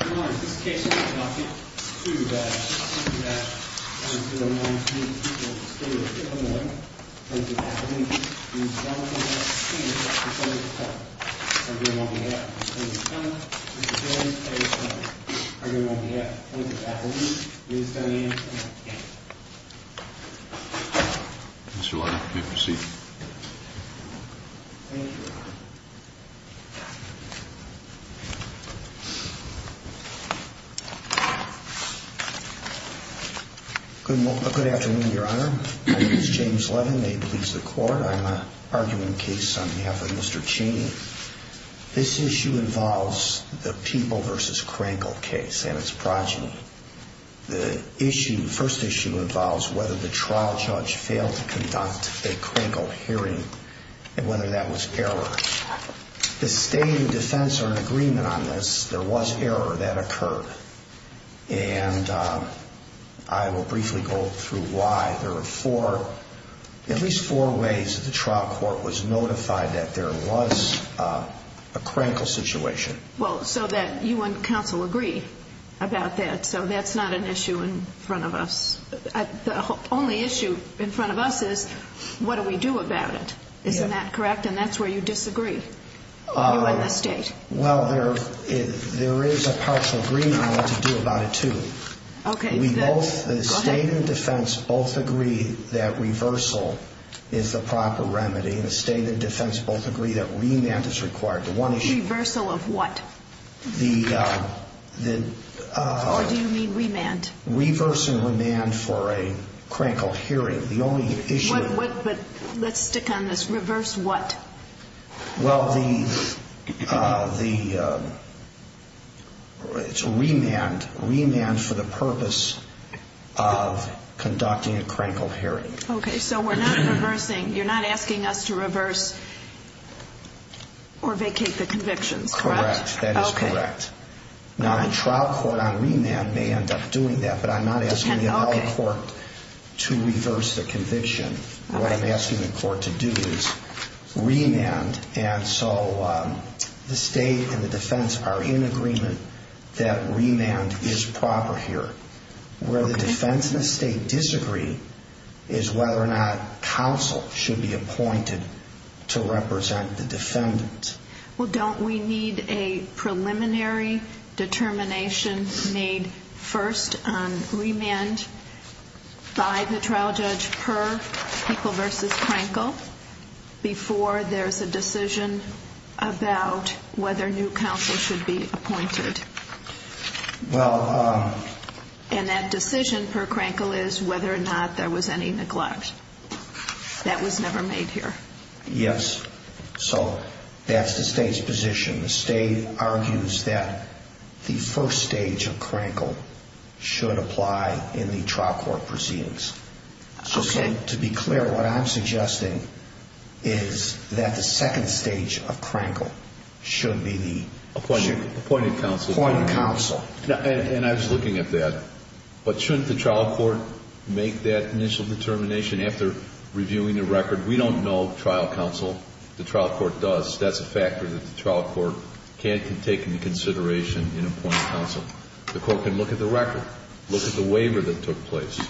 I remind you, this case is conducted, under the guidance of the 109steamchance. Please stand by, for there are no moments From now on the following court We are having will move on to the next case 24624N1405. Mr Wyatt, you may proceed. Thank you. Good afternoon, your honor. My name is James Levin. May it please the court. I'm arguing a case on behalf of Mr. Chaney. This issue involves the People v. Crankle case and its progeny. The first issue involves whether the trial judge failed to conduct a Crankle hearing and whether that was error. The state and defense are in agreement on this. There was error that occurred. And I will briefly go through why. There are four, at least four ways that the trial court was notified that there was a Crankle situation. Well, so that you and counsel agree about that. So that's not an issue in front of us. The only issue in front of us is, what do we do about it? Isn't that correct? And that's where you disagree. You and the state. Well, there is a partial agreement I want to do about it, too. Okay. The state and defense both agree that reversal is the proper remedy. The state and defense both agree that remand is required. Reversal of what? Or do you mean remand? Reverse and remand for a Crankle hearing. The only issue... But let's stick on this. Reverse what? Well, the... it's remand. Remand for the purpose of conducting a Crankle hearing. Okay, so we're not reversing. You're not asking us to reverse or vacate the convictions, correct? That is correct. Now, the trial court on remand may end up doing that, but I'm not asking the adult court to reverse the conviction. What I'm asking the court to do is remand, and so the state and the defense are in agreement that remand is proper here. Where the defense and the state disagree is whether or not counsel should be appointed to represent the defendant. Well, don't we need a preliminary determination made first on remand by the trial judge per Kinkle versus Crankle before there's a decision about whether new counsel should be appointed? Well... And that decision per Crankle is whether or not there was any neglect. That was never made here. Yes, so that's the state's position. The state argues that the first stage of Crankle should apply in the trial court proceedings. Okay. So to be clear, what I'm suggesting is that the second stage of Crankle should be the... Appointed counsel. Appointed counsel. And I was looking at that. But shouldn't the trial court make that initial determination after reviewing the record? We don't know trial counsel. The trial court does. That's a factor that the trial court can take into consideration in appointing counsel. The court can look at the record, look at the waiver that took place,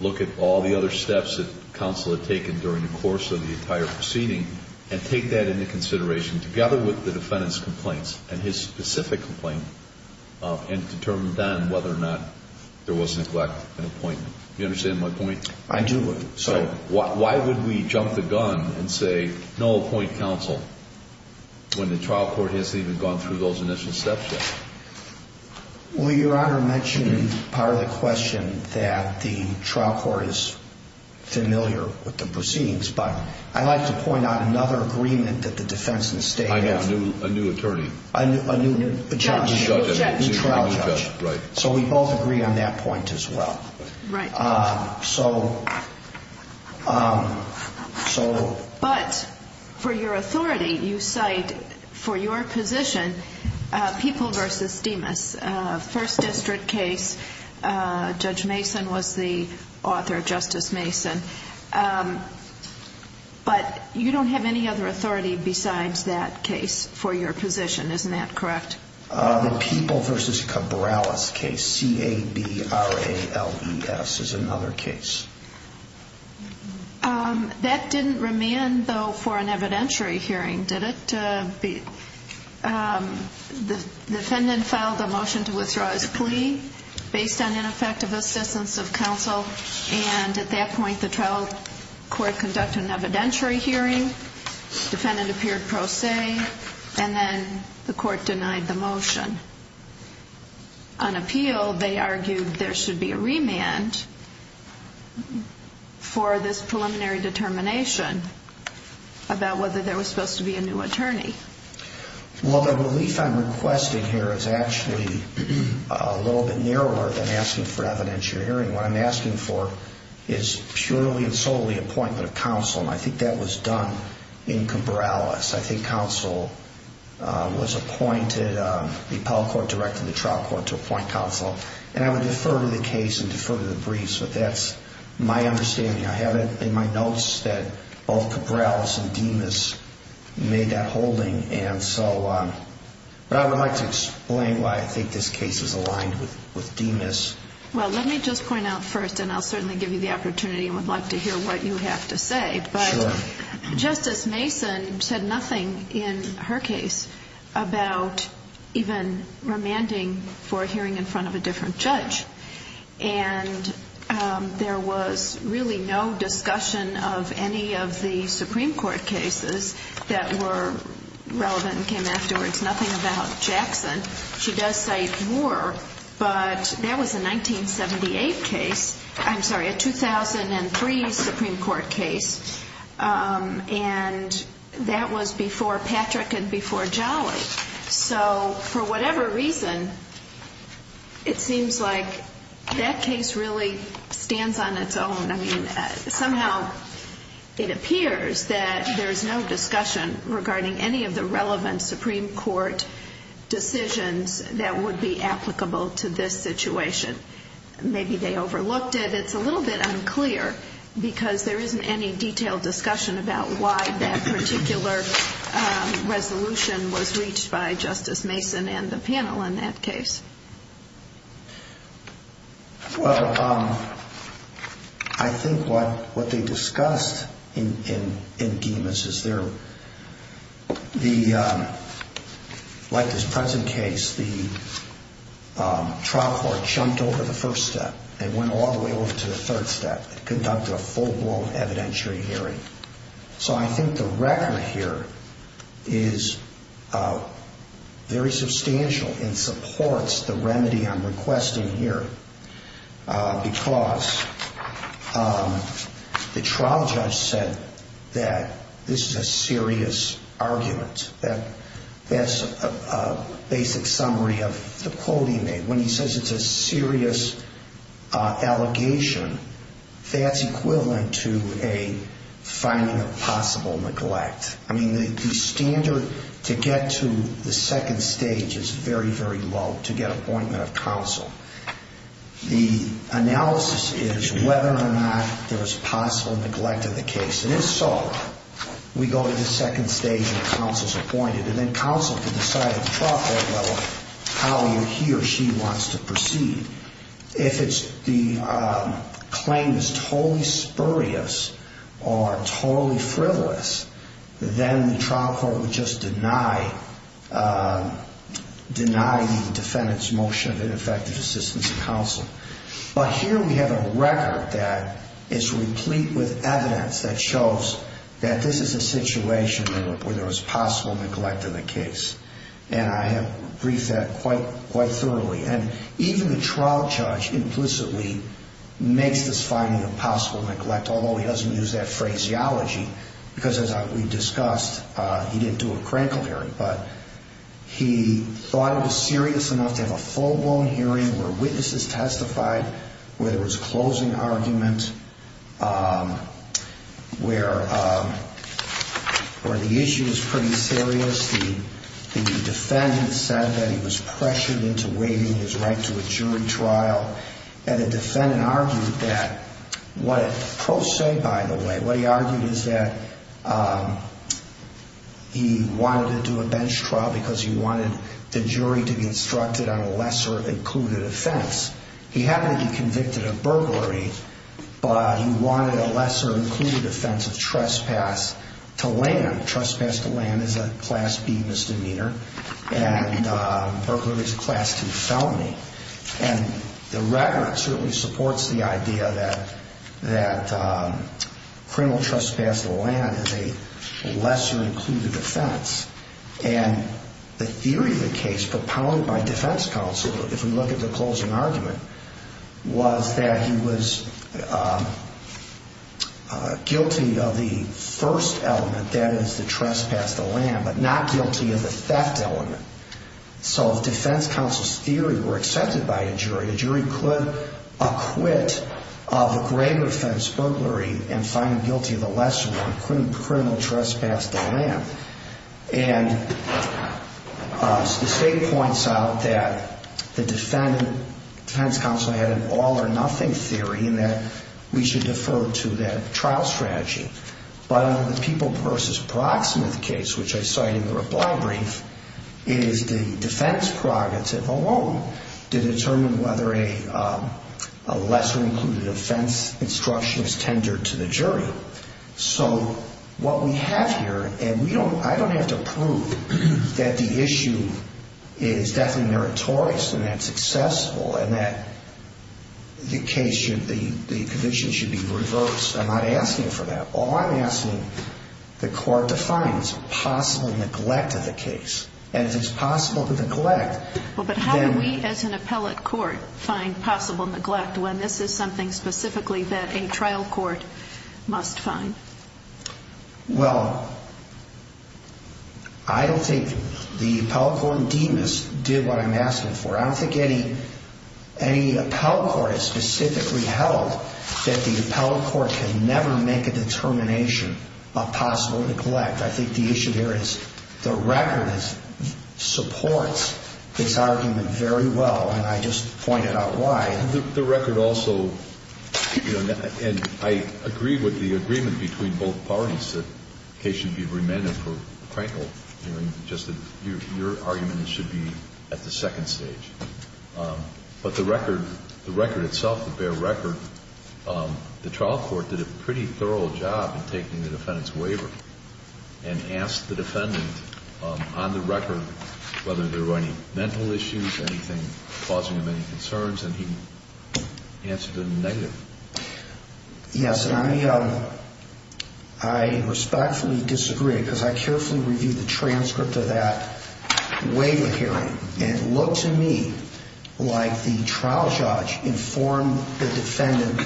look at all the other steps that counsel had taken during the course of the entire proceeding, and take that into consideration, together with the defendant's complaints and his specific complaint, and determine then whether or not there was neglect in appointment. Do you understand my point? I do. So why would we jump the gun and say, no, appoint counsel, when the trial court hasn't even gone through those initial steps yet? Well, Your Honor mentioned in part of the question that the trial court is familiar with the proceedings, but I'd like to point out another agreement that the defense and the state have. I know. A new attorney. A new judge. New trial judge. Right. So we both agree on that point as well. Right. So... But for your authority, you cite for your position, People v. Demas, first district case. Judge Mason was the author, Justice Mason. But you don't have any other authority besides that case for your position, isn't that correct? The People v. Cabrales case, C-A-B-R-A-L-E-S, is another case. That didn't remand, though, for an evidentiary hearing, did it? The defendant filed a motion to withdraw his plea based on ineffective assistance of counsel, and at that point the trial court conducted an evidentiary hearing. Defendant appeared pro se, and then the court denied the motion. On appeal, they argued there should be a remand for this preliminary determination about whether there was supposed to be a new attorney. Well, the relief I'm requesting here is actually a little bit narrower than asking for evidentiary hearing. What I'm asking for is purely and solely appointment of counsel, and I think that was done in Cabrales. I think counsel was appointed, the appellate court directed the trial court to appoint counsel, and I would defer to the case and defer to the briefs, but that's my understanding. I have it in my notes that both Cabrales and Demas made that holding, and so... But I would like to explain why I think this case is aligned with Demas. Well, let me just point out first, and I'll certainly give you the opportunity and would like to hear what you have to say, but Justice Mason said nothing in her case about even remanding for a hearing in front of a different judge, and there was really no discussion of any of the Supreme Court cases that were relevant and came afterwards, nothing about Jackson. She does cite Moore, but that was a 1978 case, I'm sorry, a 2003 Supreme Court case, and that was before Patrick and before Jolly. So for whatever reason, it seems like that case really stands on its own. I mean, somehow it appears that there's no discussion regarding any of the relevant Supreme Court decisions that would be applicable to this situation. Maybe they overlooked it. It's a little bit unclear because there isn't any detailed discussion about why that particular resolution was reached by Justice Mason and the panel in that case. Well, I think what they discussed in Demas is there, like this present case, the trial court jumped over the first step and went all the way over to the third step and conducted a full-blown evidentiary hearing. So I think the record here is very substantial and supports the remedy I'm requesting here because the trial judge said that this is a serious argument. That's a basic summary of the quote he made. When he says it's a serious allegation, that's equivalent to a finding of possible neglect. I mean, the standard to get to the second stage is very, very low to get appointment of counsel. The analysis is whether or not there's possible neglect of the case. And in Soro, we go to the second stage where counsel's appointed, and then counsel can decide at the trial court level how he or she wants to proceed. If the claim is totally spurious or totally frivolous, then the trial court would just deny the defendant's motion of ineffective assistance to counsel. But here we have a record that is replete with evidence that shows that this is a situation where there was possible neglect of the case. And I have briefed that quite thoroughly. And even the trial judge implicitly makes this finding of possible neglect, although he doesn't use that phraseology because, as we discussed, he didn't do a crankle hearing. But he thought it was serious enough to have a full-blown hearing where witnesses testified, where there was a closing argument, where the issue was pretty serious. The defendant said that he was pressured into waiving his right to a jury trial. And the defendant argued that what it prosaic, by the way, what he argued is that he wanted to do a bench trial because he wanted the jury to be instructed on a lesser-included offense. He happened to be convicted of burglary, but he wanted a lesser-included offense of trespass to land. Trespass to land is a Class B misdemeanor, and burglary is a Class 2 felony. And the record certainly supports the idea that criminal trespass to land is a lesser-included offense. And the theory of the case propounded by defense counsel, if we look at the closing argument, was that he was guilty of the first element, that is, the trespass to land, but not guilty of the theft element. So if defense counsel's theory were accepted by a jury, a jury could acquit of a grave offense, and find guilty of the lesser one, criminal trespass to land. And the state points out that the defense counsel had an all-or-nothing theory and that we should defer to that trial strategy. But under the People v. Proxmuth case, which I cite in the reply brief, it is the defense prerogative alone to determine whether a lesser-included offense instruction is tendered to the jury. So what we have here, and I don't have to prove that the issue is definitely meritorious and that it's accessible and that the case should be, the conviction should be reversed. I'm not asking for that. All I'm asking the court to find is possible neglect of the case. And if it's possible to neglect, then... Well, but how do we as an appellate court find possible neglect when this is something specifically that a trial court must find? Well, I don't think the appellate court in Demas did what I'm asking for. I don't think any appellate court has specifically held that the appellate court can never make a determination of possible neglect. I think the issue here is the record supports this argument very well, and I just pointed out why. The record also, you know, and I agree with the agreement between both parties that the case should be remanded for Crankle, just that your argument should be at the second stage. But the record itself, the bare record, the trial court did a pretty thorough job in taking the defendant's waiver and asked the defendant on the record whether there were any mental issues, anything causing him any concerns, and he answered in the negative. Yes, and I respectfully disagree, because I carefully reviewed the transcript of that waiver hearing, and it looked to me like the trial judge informed the defendant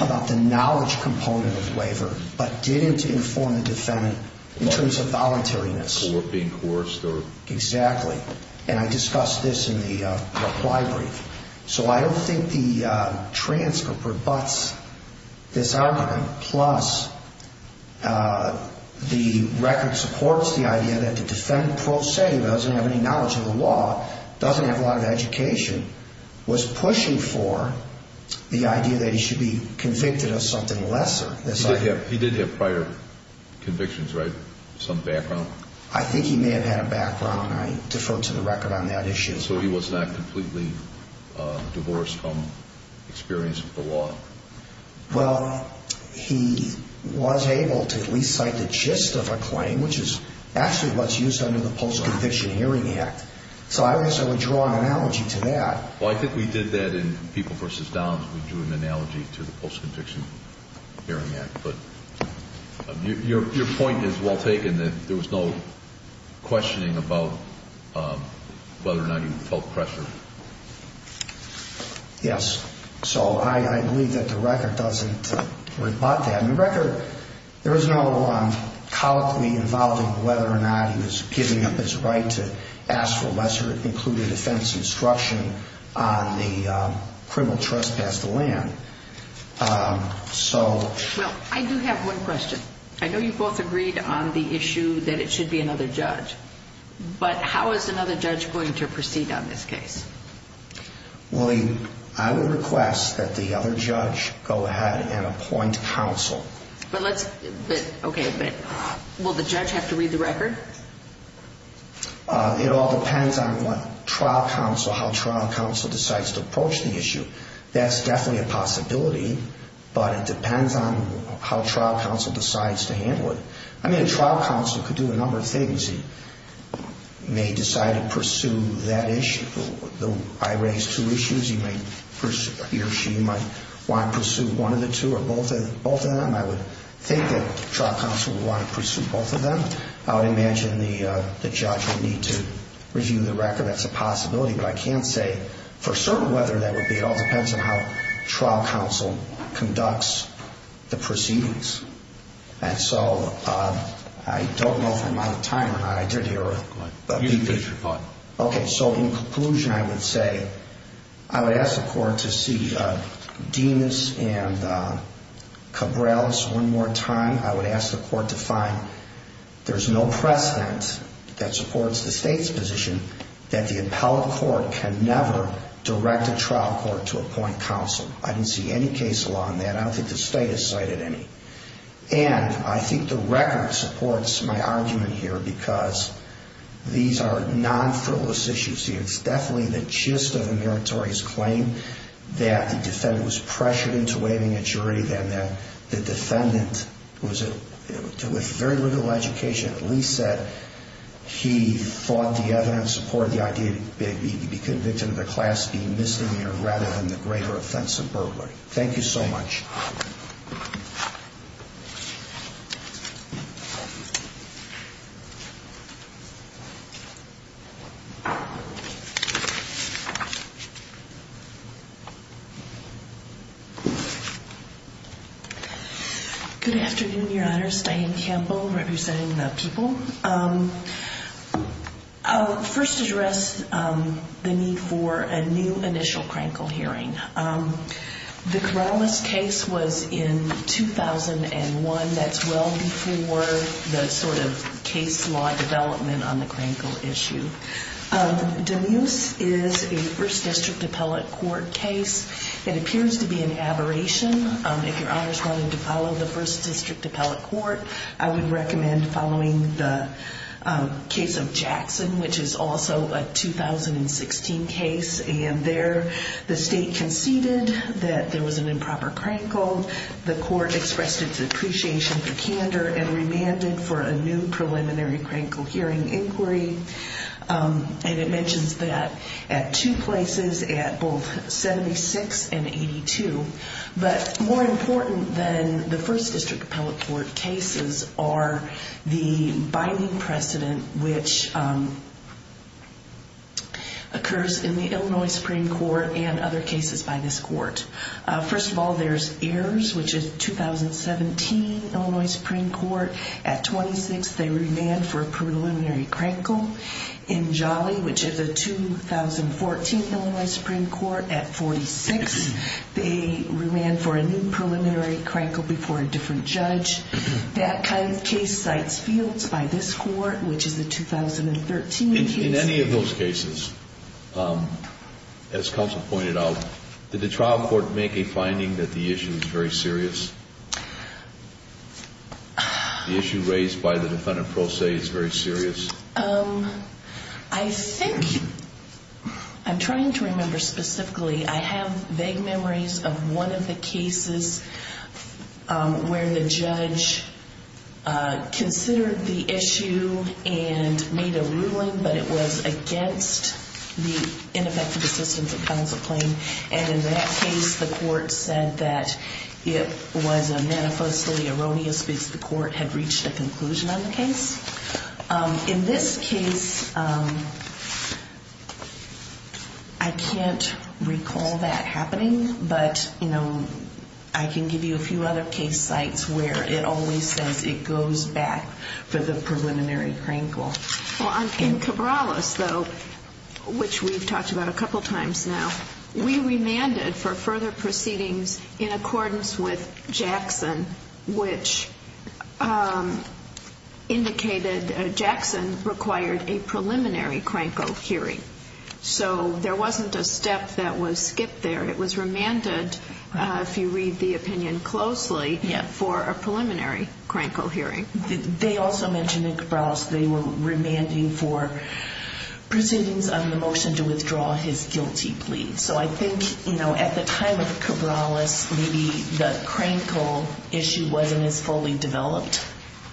about the knowledge component of the waiver, but didn't inform the defendant in terms of voluntariness. Or being coerced, or... Exactly, and I discussed this in the reply brief. So I don't think the transcript rebuts this argument. Plus, the record supports the idea that the defendant, per se, doesn't have any knowledge of the law, doesn't have a lot of education, was pushing for the idea that he should be convicted of something lesser. He did have prior convictions, right? Some background? I think he may have had a background. I defer to the record on that issue. And so he was not completely divorced from experience with the law? Well, he was able to at least cite the gist of a claim, which is actually what's used under the Post-Conviction Hearing Act. So I guess I would draw an analogy to that. Well, I think we did that in People v. Downs. We drew an analogy to the Post-Conviction Hearing Act, Your point is well taken, that there was no questioning about whether or not he felt pressure. Yes. So I believe that the record doesn't rebut that. In the record, there is no colloquy involving whether or not he was giving up his right to ask for lesser included offense instruction on the criminal trespass to land. Well, I do have one question. I know you both agreed on the issue that it should be another judge. But how is another judge going to proceed on this case? Well, I would request that the other judge go ahead and appoint counsel. Okay, but will the judge have to read the record? It all depends on how trial counsel decides to approach the issue. That's definitely a possibility, but it depends on how trial counsel decides to handle it. I mean, a trial counsel could do a number of things. He may decide to pursue that issue. I raised two issues. He or she might want to pursue one of the two or both of them. I would think that trial counsel would want to pursue both of them. I would imagine the judge would need to review the record. That's a possibility. But I can't say for certain whether that would be. It all depends on how trial counsel conducts the proceedings. And so I don't know if I'm out of time or not. I did hear a big thing. You can finish your thought. Okay, so in conclusion, I would say I would ask the court to see Dimas and Cabrales one more time. I would ask the court to find there's no precedent that supports the state's position that the appellate court can never direct a trial court to appoint counsel. I didn't see any case law on that. I don't think the state has cited any. And I think the record supports my argument here because these are non-frivolous issues. It's definitely the gist of the meritorious claim that the defendant was pressured into waiving a jury, and that the defendant, with very little education, at least said he thought the evidence supported the idea to be convicted of the class B misdemeanor rather than the greater offense of burglary. Thank you so much. Thank you. Good afternoon, Your Honors. Diane Campbell representing the people. I'll first address the need for a new initial crankle hearing. The Cabrales case was in 2001. That's well before the sort of case law development on the crankle issue. Demuse is a first district appellate court case. It appears to be an aberration. If Your Honors wanted to follow the first district appellate court, I would recommend following the case of Jackson, which is also a 2016 case. The state conceded that there was an improper crankle. The court expressed its appreciation for candor and remanded for a new preliminary crankle hearing inquiry. And it mentions that at two places, at both 76 and 82. But more important than the first district appellate court cases are the binding precedent, which occurs in the Illinois Supreme Court and other cases by this court. First of all, there's Ayers, which is a 2017 Illinois Supreme Court. At 26, they remanded for a preliminary crankle. In Jolly, which is a 2014 Illinois Supreme Court, at 46, they remanded for a new preliminary crankle before a different judge. That kind of case cites fields by this court, which is a 2013 case. In any of those cases, as counsel pointed out, did the trial court make a finding that the issue is very serious? The issue raised by the defendant pro se is very serious? I think I'm trying to remember specifically. I have vague memories of one of the cases where the judge considered the issue and made a ruling, but it was against the ineffective assistance of counsel claim. And in that case, the court said that it was a manifestly erroneous because the court had reached a conclusion on the case. In this case, I can't recall that happening, but I can give you a few other case sites where it always says it goes back for the preliminary crankle. In Cabrales, though, which we've talked about a couple times now, we remanded for further proceedings in accordance with Jackson, which indicated Jackson required a preliminary crankle hearing. So there wasn't a step that was skipped there. It was remanded, if you read the opinion closely, for a preliminary crankle hearing. They also mentioned in Cabrales they were remanding for proceedings on the motion to withdraw his guilty plea. So I think, you know, at the time of Cabrales, maybe the crankle issue wasn't as fully developed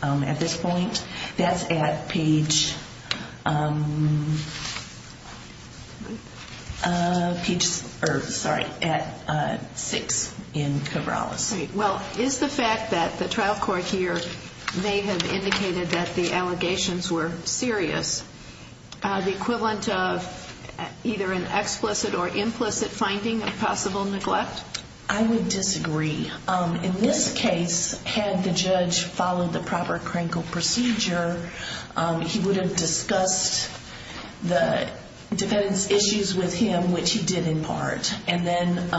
at this point. That's at page six in Cabrales. Well, is the fact that the trial court here may have indicated that the allegations were serious the equivalent of either an explicit or implicit finding of possible neglect? I would disagree. In this case, had the judge followed the proper crankle procedure, he would have discussed the defendant's issues with him, which he did in part. And then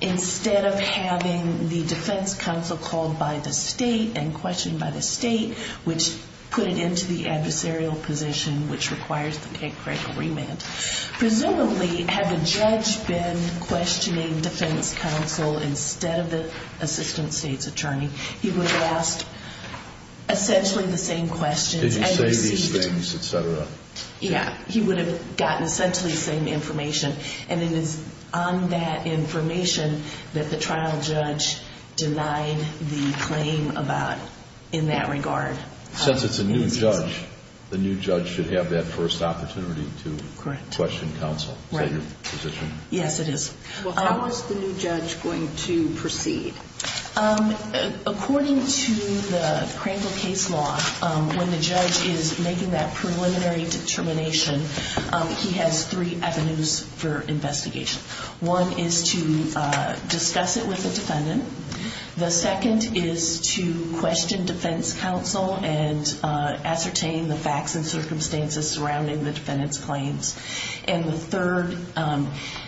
instead of having the defense counsel called by the state and questioned by the state, which put it into the adversarial position, which requires the crankle remand, presumably had the judge been questioning defense counsel instead of the assistant state's attorney, he would have asked essentially the same questions. Did he say these things, et cetera? Yeah, he would have gotten essentially the same information. And it is on that information that the trial judge denied the claim about in that regard. Since it's a new judge, the new judge should have that first opportunity to question counsel. Is that your position? Yes, it is. Well, how is the new judge going to proceed? According to the crankle case law, when the judge is making that preliminary determination, he has three avenues for investigation. One is to discuss it with the defendant. The second is to question defense counsel and ascertain the facts and circumstances surrounding the defendant's claims. And the third,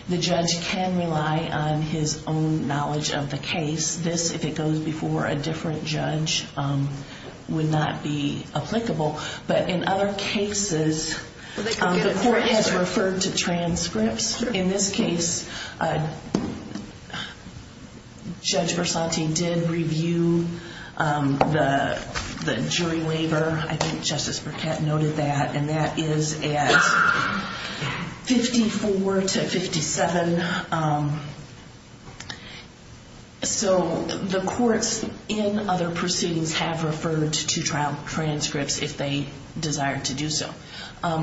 the judge can rely on his own knowledge of the case. This, if it goes before a different judge, would not be applicable. But in other cases, the court has referred to transcripts. In this case, Judge Versanti did review the jury waiver. I think Justice Burkett noted that, and that is at 54 to 57. So the courts in other proceedings have referred to trial transcripts if they desire to do so.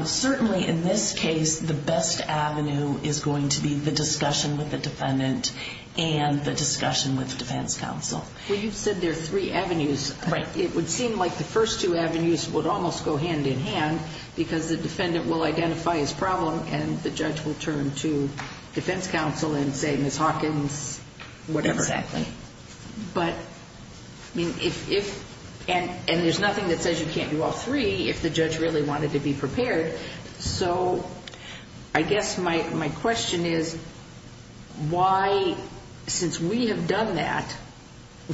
Certainly in this case, the best avenue is going to be the discussion with the defendant and the discussion with defense counsel. Well, you said there are three avenues. Right. It would seem like the first two avenues would almost go hand in hand because the defendant will identify his problem and the judge will turn to defense counsel and say, Ms. Hawkins, whatever. Exactly. But, I mean, if, and there's nothing that says you can't do all three if the judge really wanted to be prepared. So I guess my question is, why, since we have done that,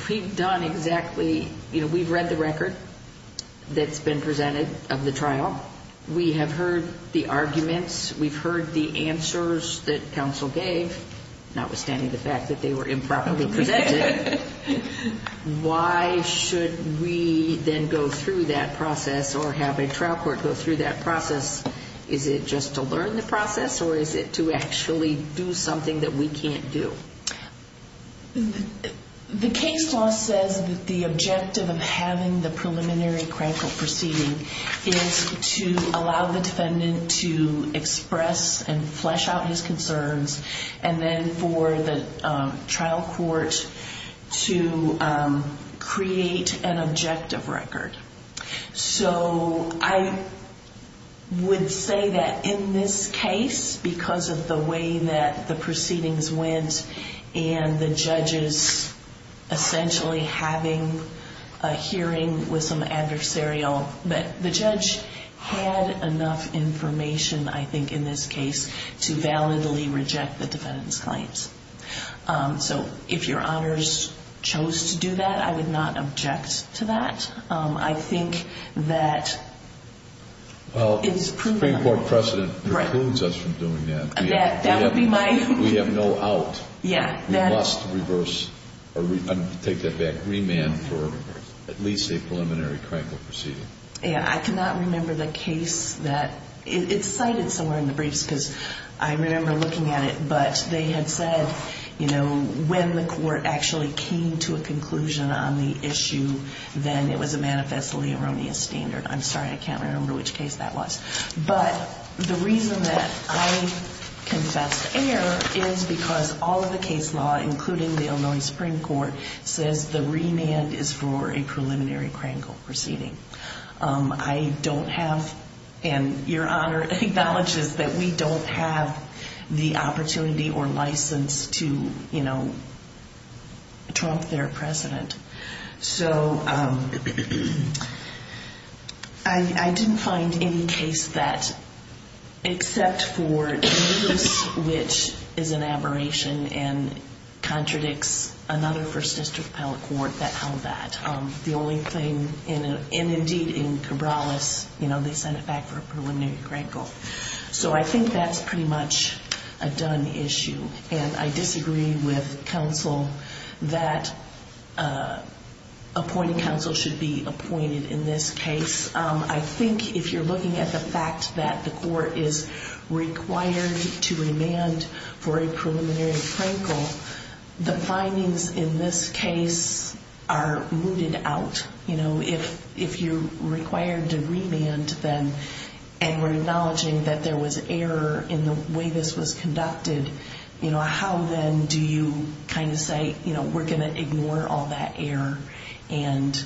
we've done exactly, you know, we've read the record that's been presented of the trial. We have heard the arguments. We've heard the answers that counsel gave, notwithstanding the fact that they were improperly presented. Why should we then go through that process or have a trial court go through that process? Is it just to learn the process or is it to actually do something that we can't do? The case law says that the objective of having the preliminary crank up proceeding is to allow the defendant to express and flesh out his concerns and then for the trial court to create an objective record. So I would say that in this case, because of the way that the proceedings went and the judges essentially having a hearing with some adversarial, that the judge had enough information, I think, in this case to validly reject the defendant's claims. So if your honors chose to do that, I would not object to that. I think that it's proven. Well, Supreme Court precedent precludes us from doing that. That would be my. We have no out. Yeah. We must reverse or take that back, remand for at least a preliminary crank up proceeding. Yeah. I cannot remember the case that it's cited somewhere in the briefs because I remember looking at it, but they had said, you know, when the court actually came to a conclusion on the issue, then it was a manifestly erroneous standard. I'm sorry. I can't remember which case that was. But the reason that I confess error is because all of the case law, including the Illinois Supreme Court, says the remand is for a preliminary crank up proceeding. I don't have. And your honor acknowledges that we don't have the opportunity or license to, you know. Trump their president. So. I didn't find any case that. Except for which is an aberration and contradicts another first district appellate court that held that. The only thing in indeed in Cabrales, you know, they sent it back for a preliminary crank up. So I think that's pretty much a done issue. And I disagree with counsel that appointing counsel should be appointed in this case. I think if you're looking at the fact that the court is required to remand for a preliminary crank up, the findings in this case are rooted out. You know, if if you're required to remand them and we're acknowledging that there was error in the way this was conducted, you know, how then do you kind of say, you know, we're going to ignore all that error and.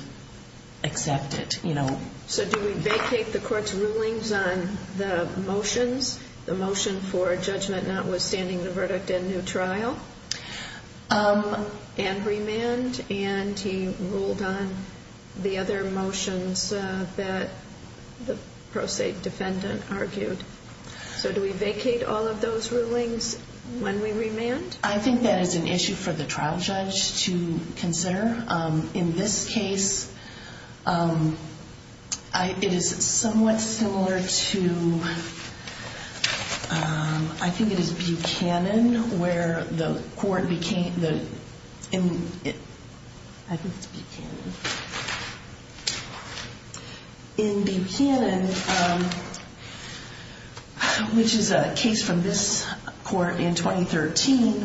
Accept it, you know. So do we vacate the court's rulings on the motions? The motion for judgment notwithstanding the verdict and new trial. And remand and he ruled on the other motions that the pro se defendant argued. So do we vacate all of those rulings when we remand? I think that is an issue for the trial judge to consider. In this case. It is somewhat similar to. I think it is Buchanan where the court became the. In Buchanan. Which is a case from this court in 2013.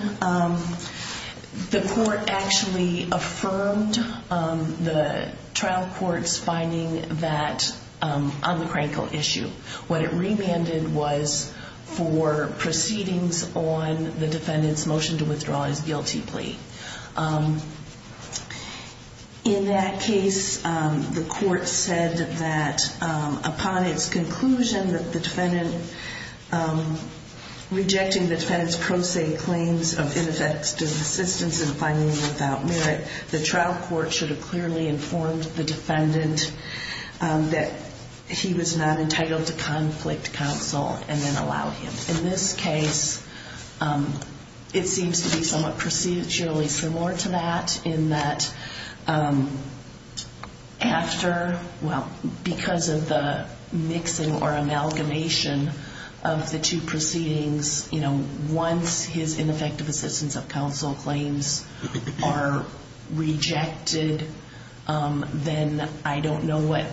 The court actually affirmed the trial court's finding that on the critical issue, what it remanded was for proceedings on the defendant's motion to withdraw his guilty plea. In that case, the court said that upon its conclusion that the defendant rejecting the defendant's pro se claims of ineffective assistance in finding without merit, the trial court should have clearly informed the defendant that he was not entitled to conflict counsel and then allow him in this case. It seems to be somewhat procedurally similar to that in that after. Well, because of the mixing or amalgamation of the two proceedings, you know, once his ineffective assistance of counsel claims are rejected, then I don't know what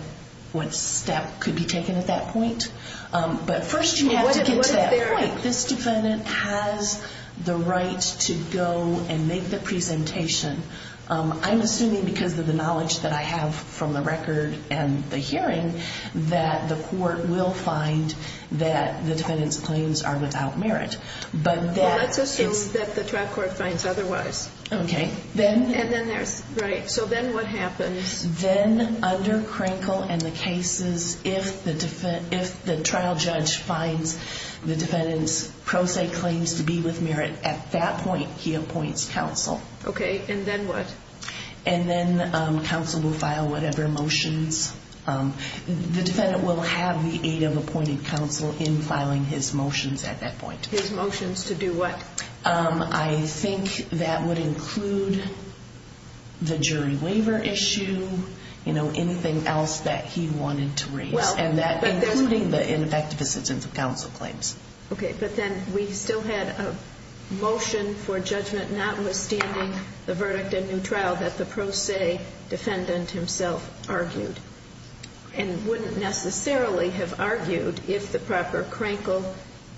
what step could be taken at that point. But first, you have to get to that point. This defendant has the right to go and make the presentation. I'm assuming because of the knowledge that I have from the record and the hearing that the court will find that the defendant's claims are without merit. But let's assume that the trial court finds otherwise. OK, then. And then there's right. So then what happens? Then under Krinkle and the cases, if the if the trial judge finds the defendant's pro se claims to be with merit at that point, he appoints counsel. OK, and then what? And then counsel will file whatever motions the defendant will have the aid of appointed counsel in filing his motions at that point. His motions to do what? I think that would include the jury waiver issue, you know, anything else that he wanted to raise and that including the ineffective assistance of counsel claims. OK, but then we still had a motion for judgment, notwithstanding the verdict and new trial that the pro se defendant himself argued and wouldn't necessarily have argued if the proper Krinkle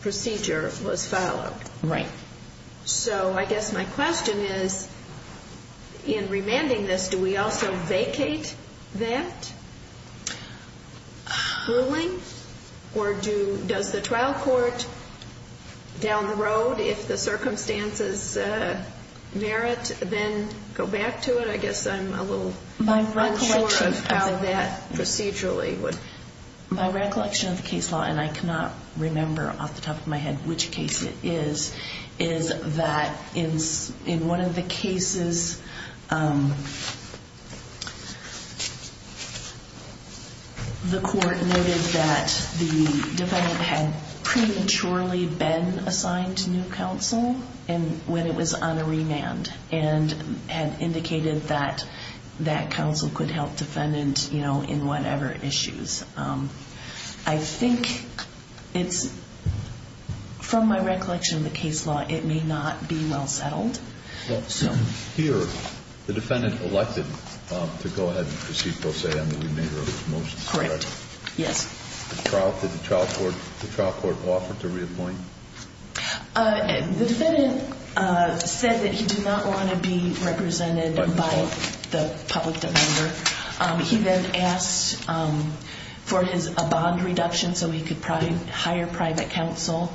procedure was followed. Right. So I guess my question is, in remanding this, do we also vacate that ruling? Or do does the trial court down the road, if the circumstances merit, then go back to it? I guess I'm a little unsure of how that procedurally would. My recollection of the case law, and I cannot remember off the top of my head which case it is, is that it's in one of the cases. The court noted that the defendant had prematurely been assigned to new counsel and when it was on a remand and had indicated that that counsel could help defendant, you know, in whatever issues. I think it's from my recollection of the case law, it may not be well settled. Here, the defendant elected to go ahead and proceed pro se on the remainder of his motion. Correct, yes. Did the trial court offer to reappoint? The defendant said that he did not want to be represented by the public defender. He then asked for a bond reduction so he could hire private counsel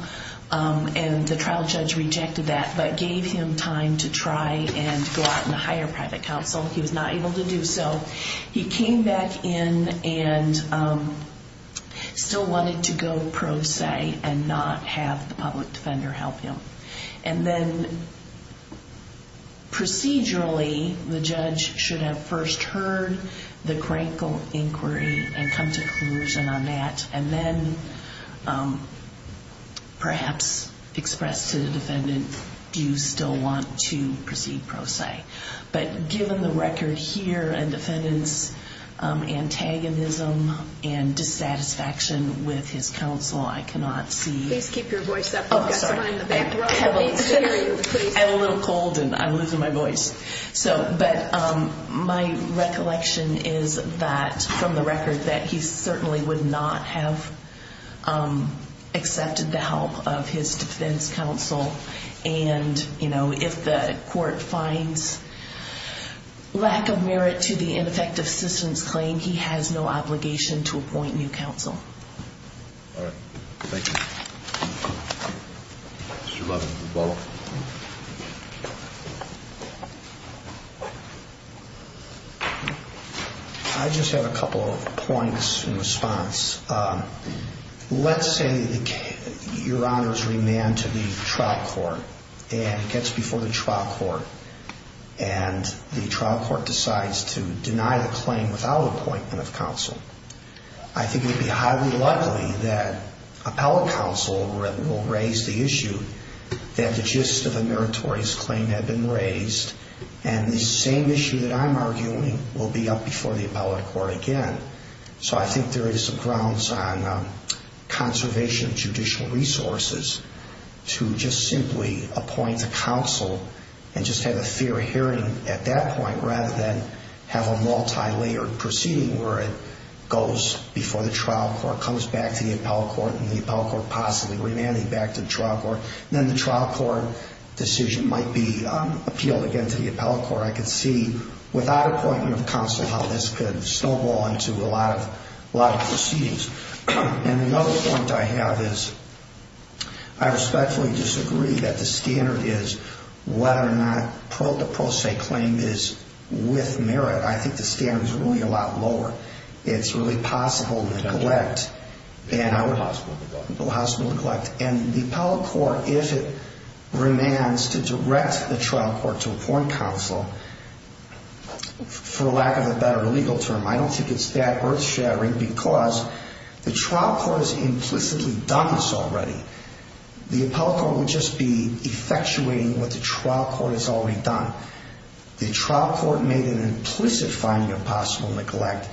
and the trial judge rejected that but gave him time to try and go out and hire private counsel. He was not able to do so. He came back in and still wanted to go pro se and not have the public defender help him. And then procedurally, the judge should have first heard the crankle inquiry and come to a conclusion on that and then perhaps express to the defendant, do you still want to proceed pro se? But given the record here and defendant's antagonism and dissatisfaction with his counsel, I cannot see... I'm a little cold and I'm losing my voice. But my recollection is that, from the record, that he certainly would not have accepted the help of his defense counsel. And, you know, if the court finds lack of merit to the ineffective assistance claim, he has no obligation to appoint new counsel. All right. Thank you. Mr. Lovell. I just have a couple of points in response. Let's say your honor is remanded to the trial court and gets before the trial court and the trial court decides to deny the claim without appointment of counsel. I think it would be highly likely that appellate counsel will raise the issue that the gist of the meritorious claim had been raised. And the same issue that I'm arguing will be up before the appellate court again. So I think there is some grounds on conservation of judicial resources to just simply appoint a counsel and just have a fair hearing at that point, rather than have a multilayered proceeding where it goes before the trial court, comes back to the appellate court, and the appellate court possibly remanding back to the trial court. And then the trial court decision might be appealed again to the appellate court. Or I could see, without appointment of counsel, how this could snowball into a lot of proceedings. And the other point I have is I respectfully disagree that the standard is whether or not the pro se claim is with merit. I think the standard is really a lot lower. It's really possible neglect. Possible neglect. And the appellate court, if it remands to direct the trial court to appoint counsel, for lack of a better legal term, I don't think it's that earth shattering because the trial court has implicitly done this already. The appellate court would just be effectuating what the trial court has already done. The trial court made an implicit finding of possible neglect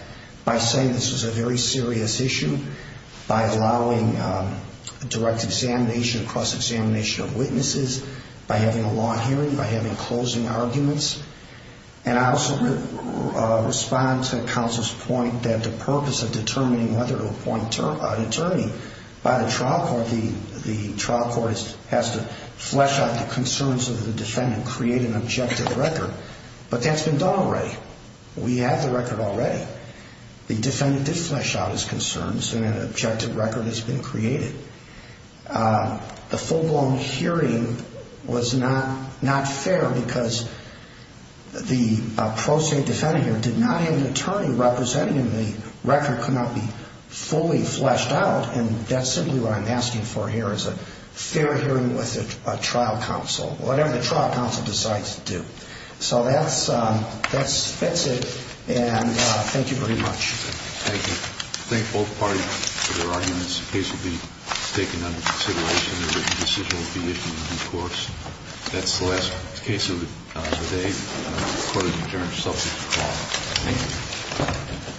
by saying this was a very serious issue, by allowing direct examination across examination of witnesses, by having a long hearing, by having closing arguments. And I also respond to counsel's point that the purpose of determining whether to appoint an attorney by the trial court, the trial court has to flesh out the concerns of the defendant, create an objective record. But that's been done already. We have the record already. The defendant did flesh out his concerns and an objective record has been created. The full blown hearing was not fair because the pro se defendant here did not have an attorney representing him. The record could not be fully fleshed out. And that's simply what I'm asking for here is a fair hearing with a trial counsel, whatever the trial counsel decides to do. So that's it. And thank you very much. Thank you. Thank both parties for their arguments. The case will be taken under consideration. The written decision will be issued in court. That's the last case of the day. Court is adjourned. Thank you.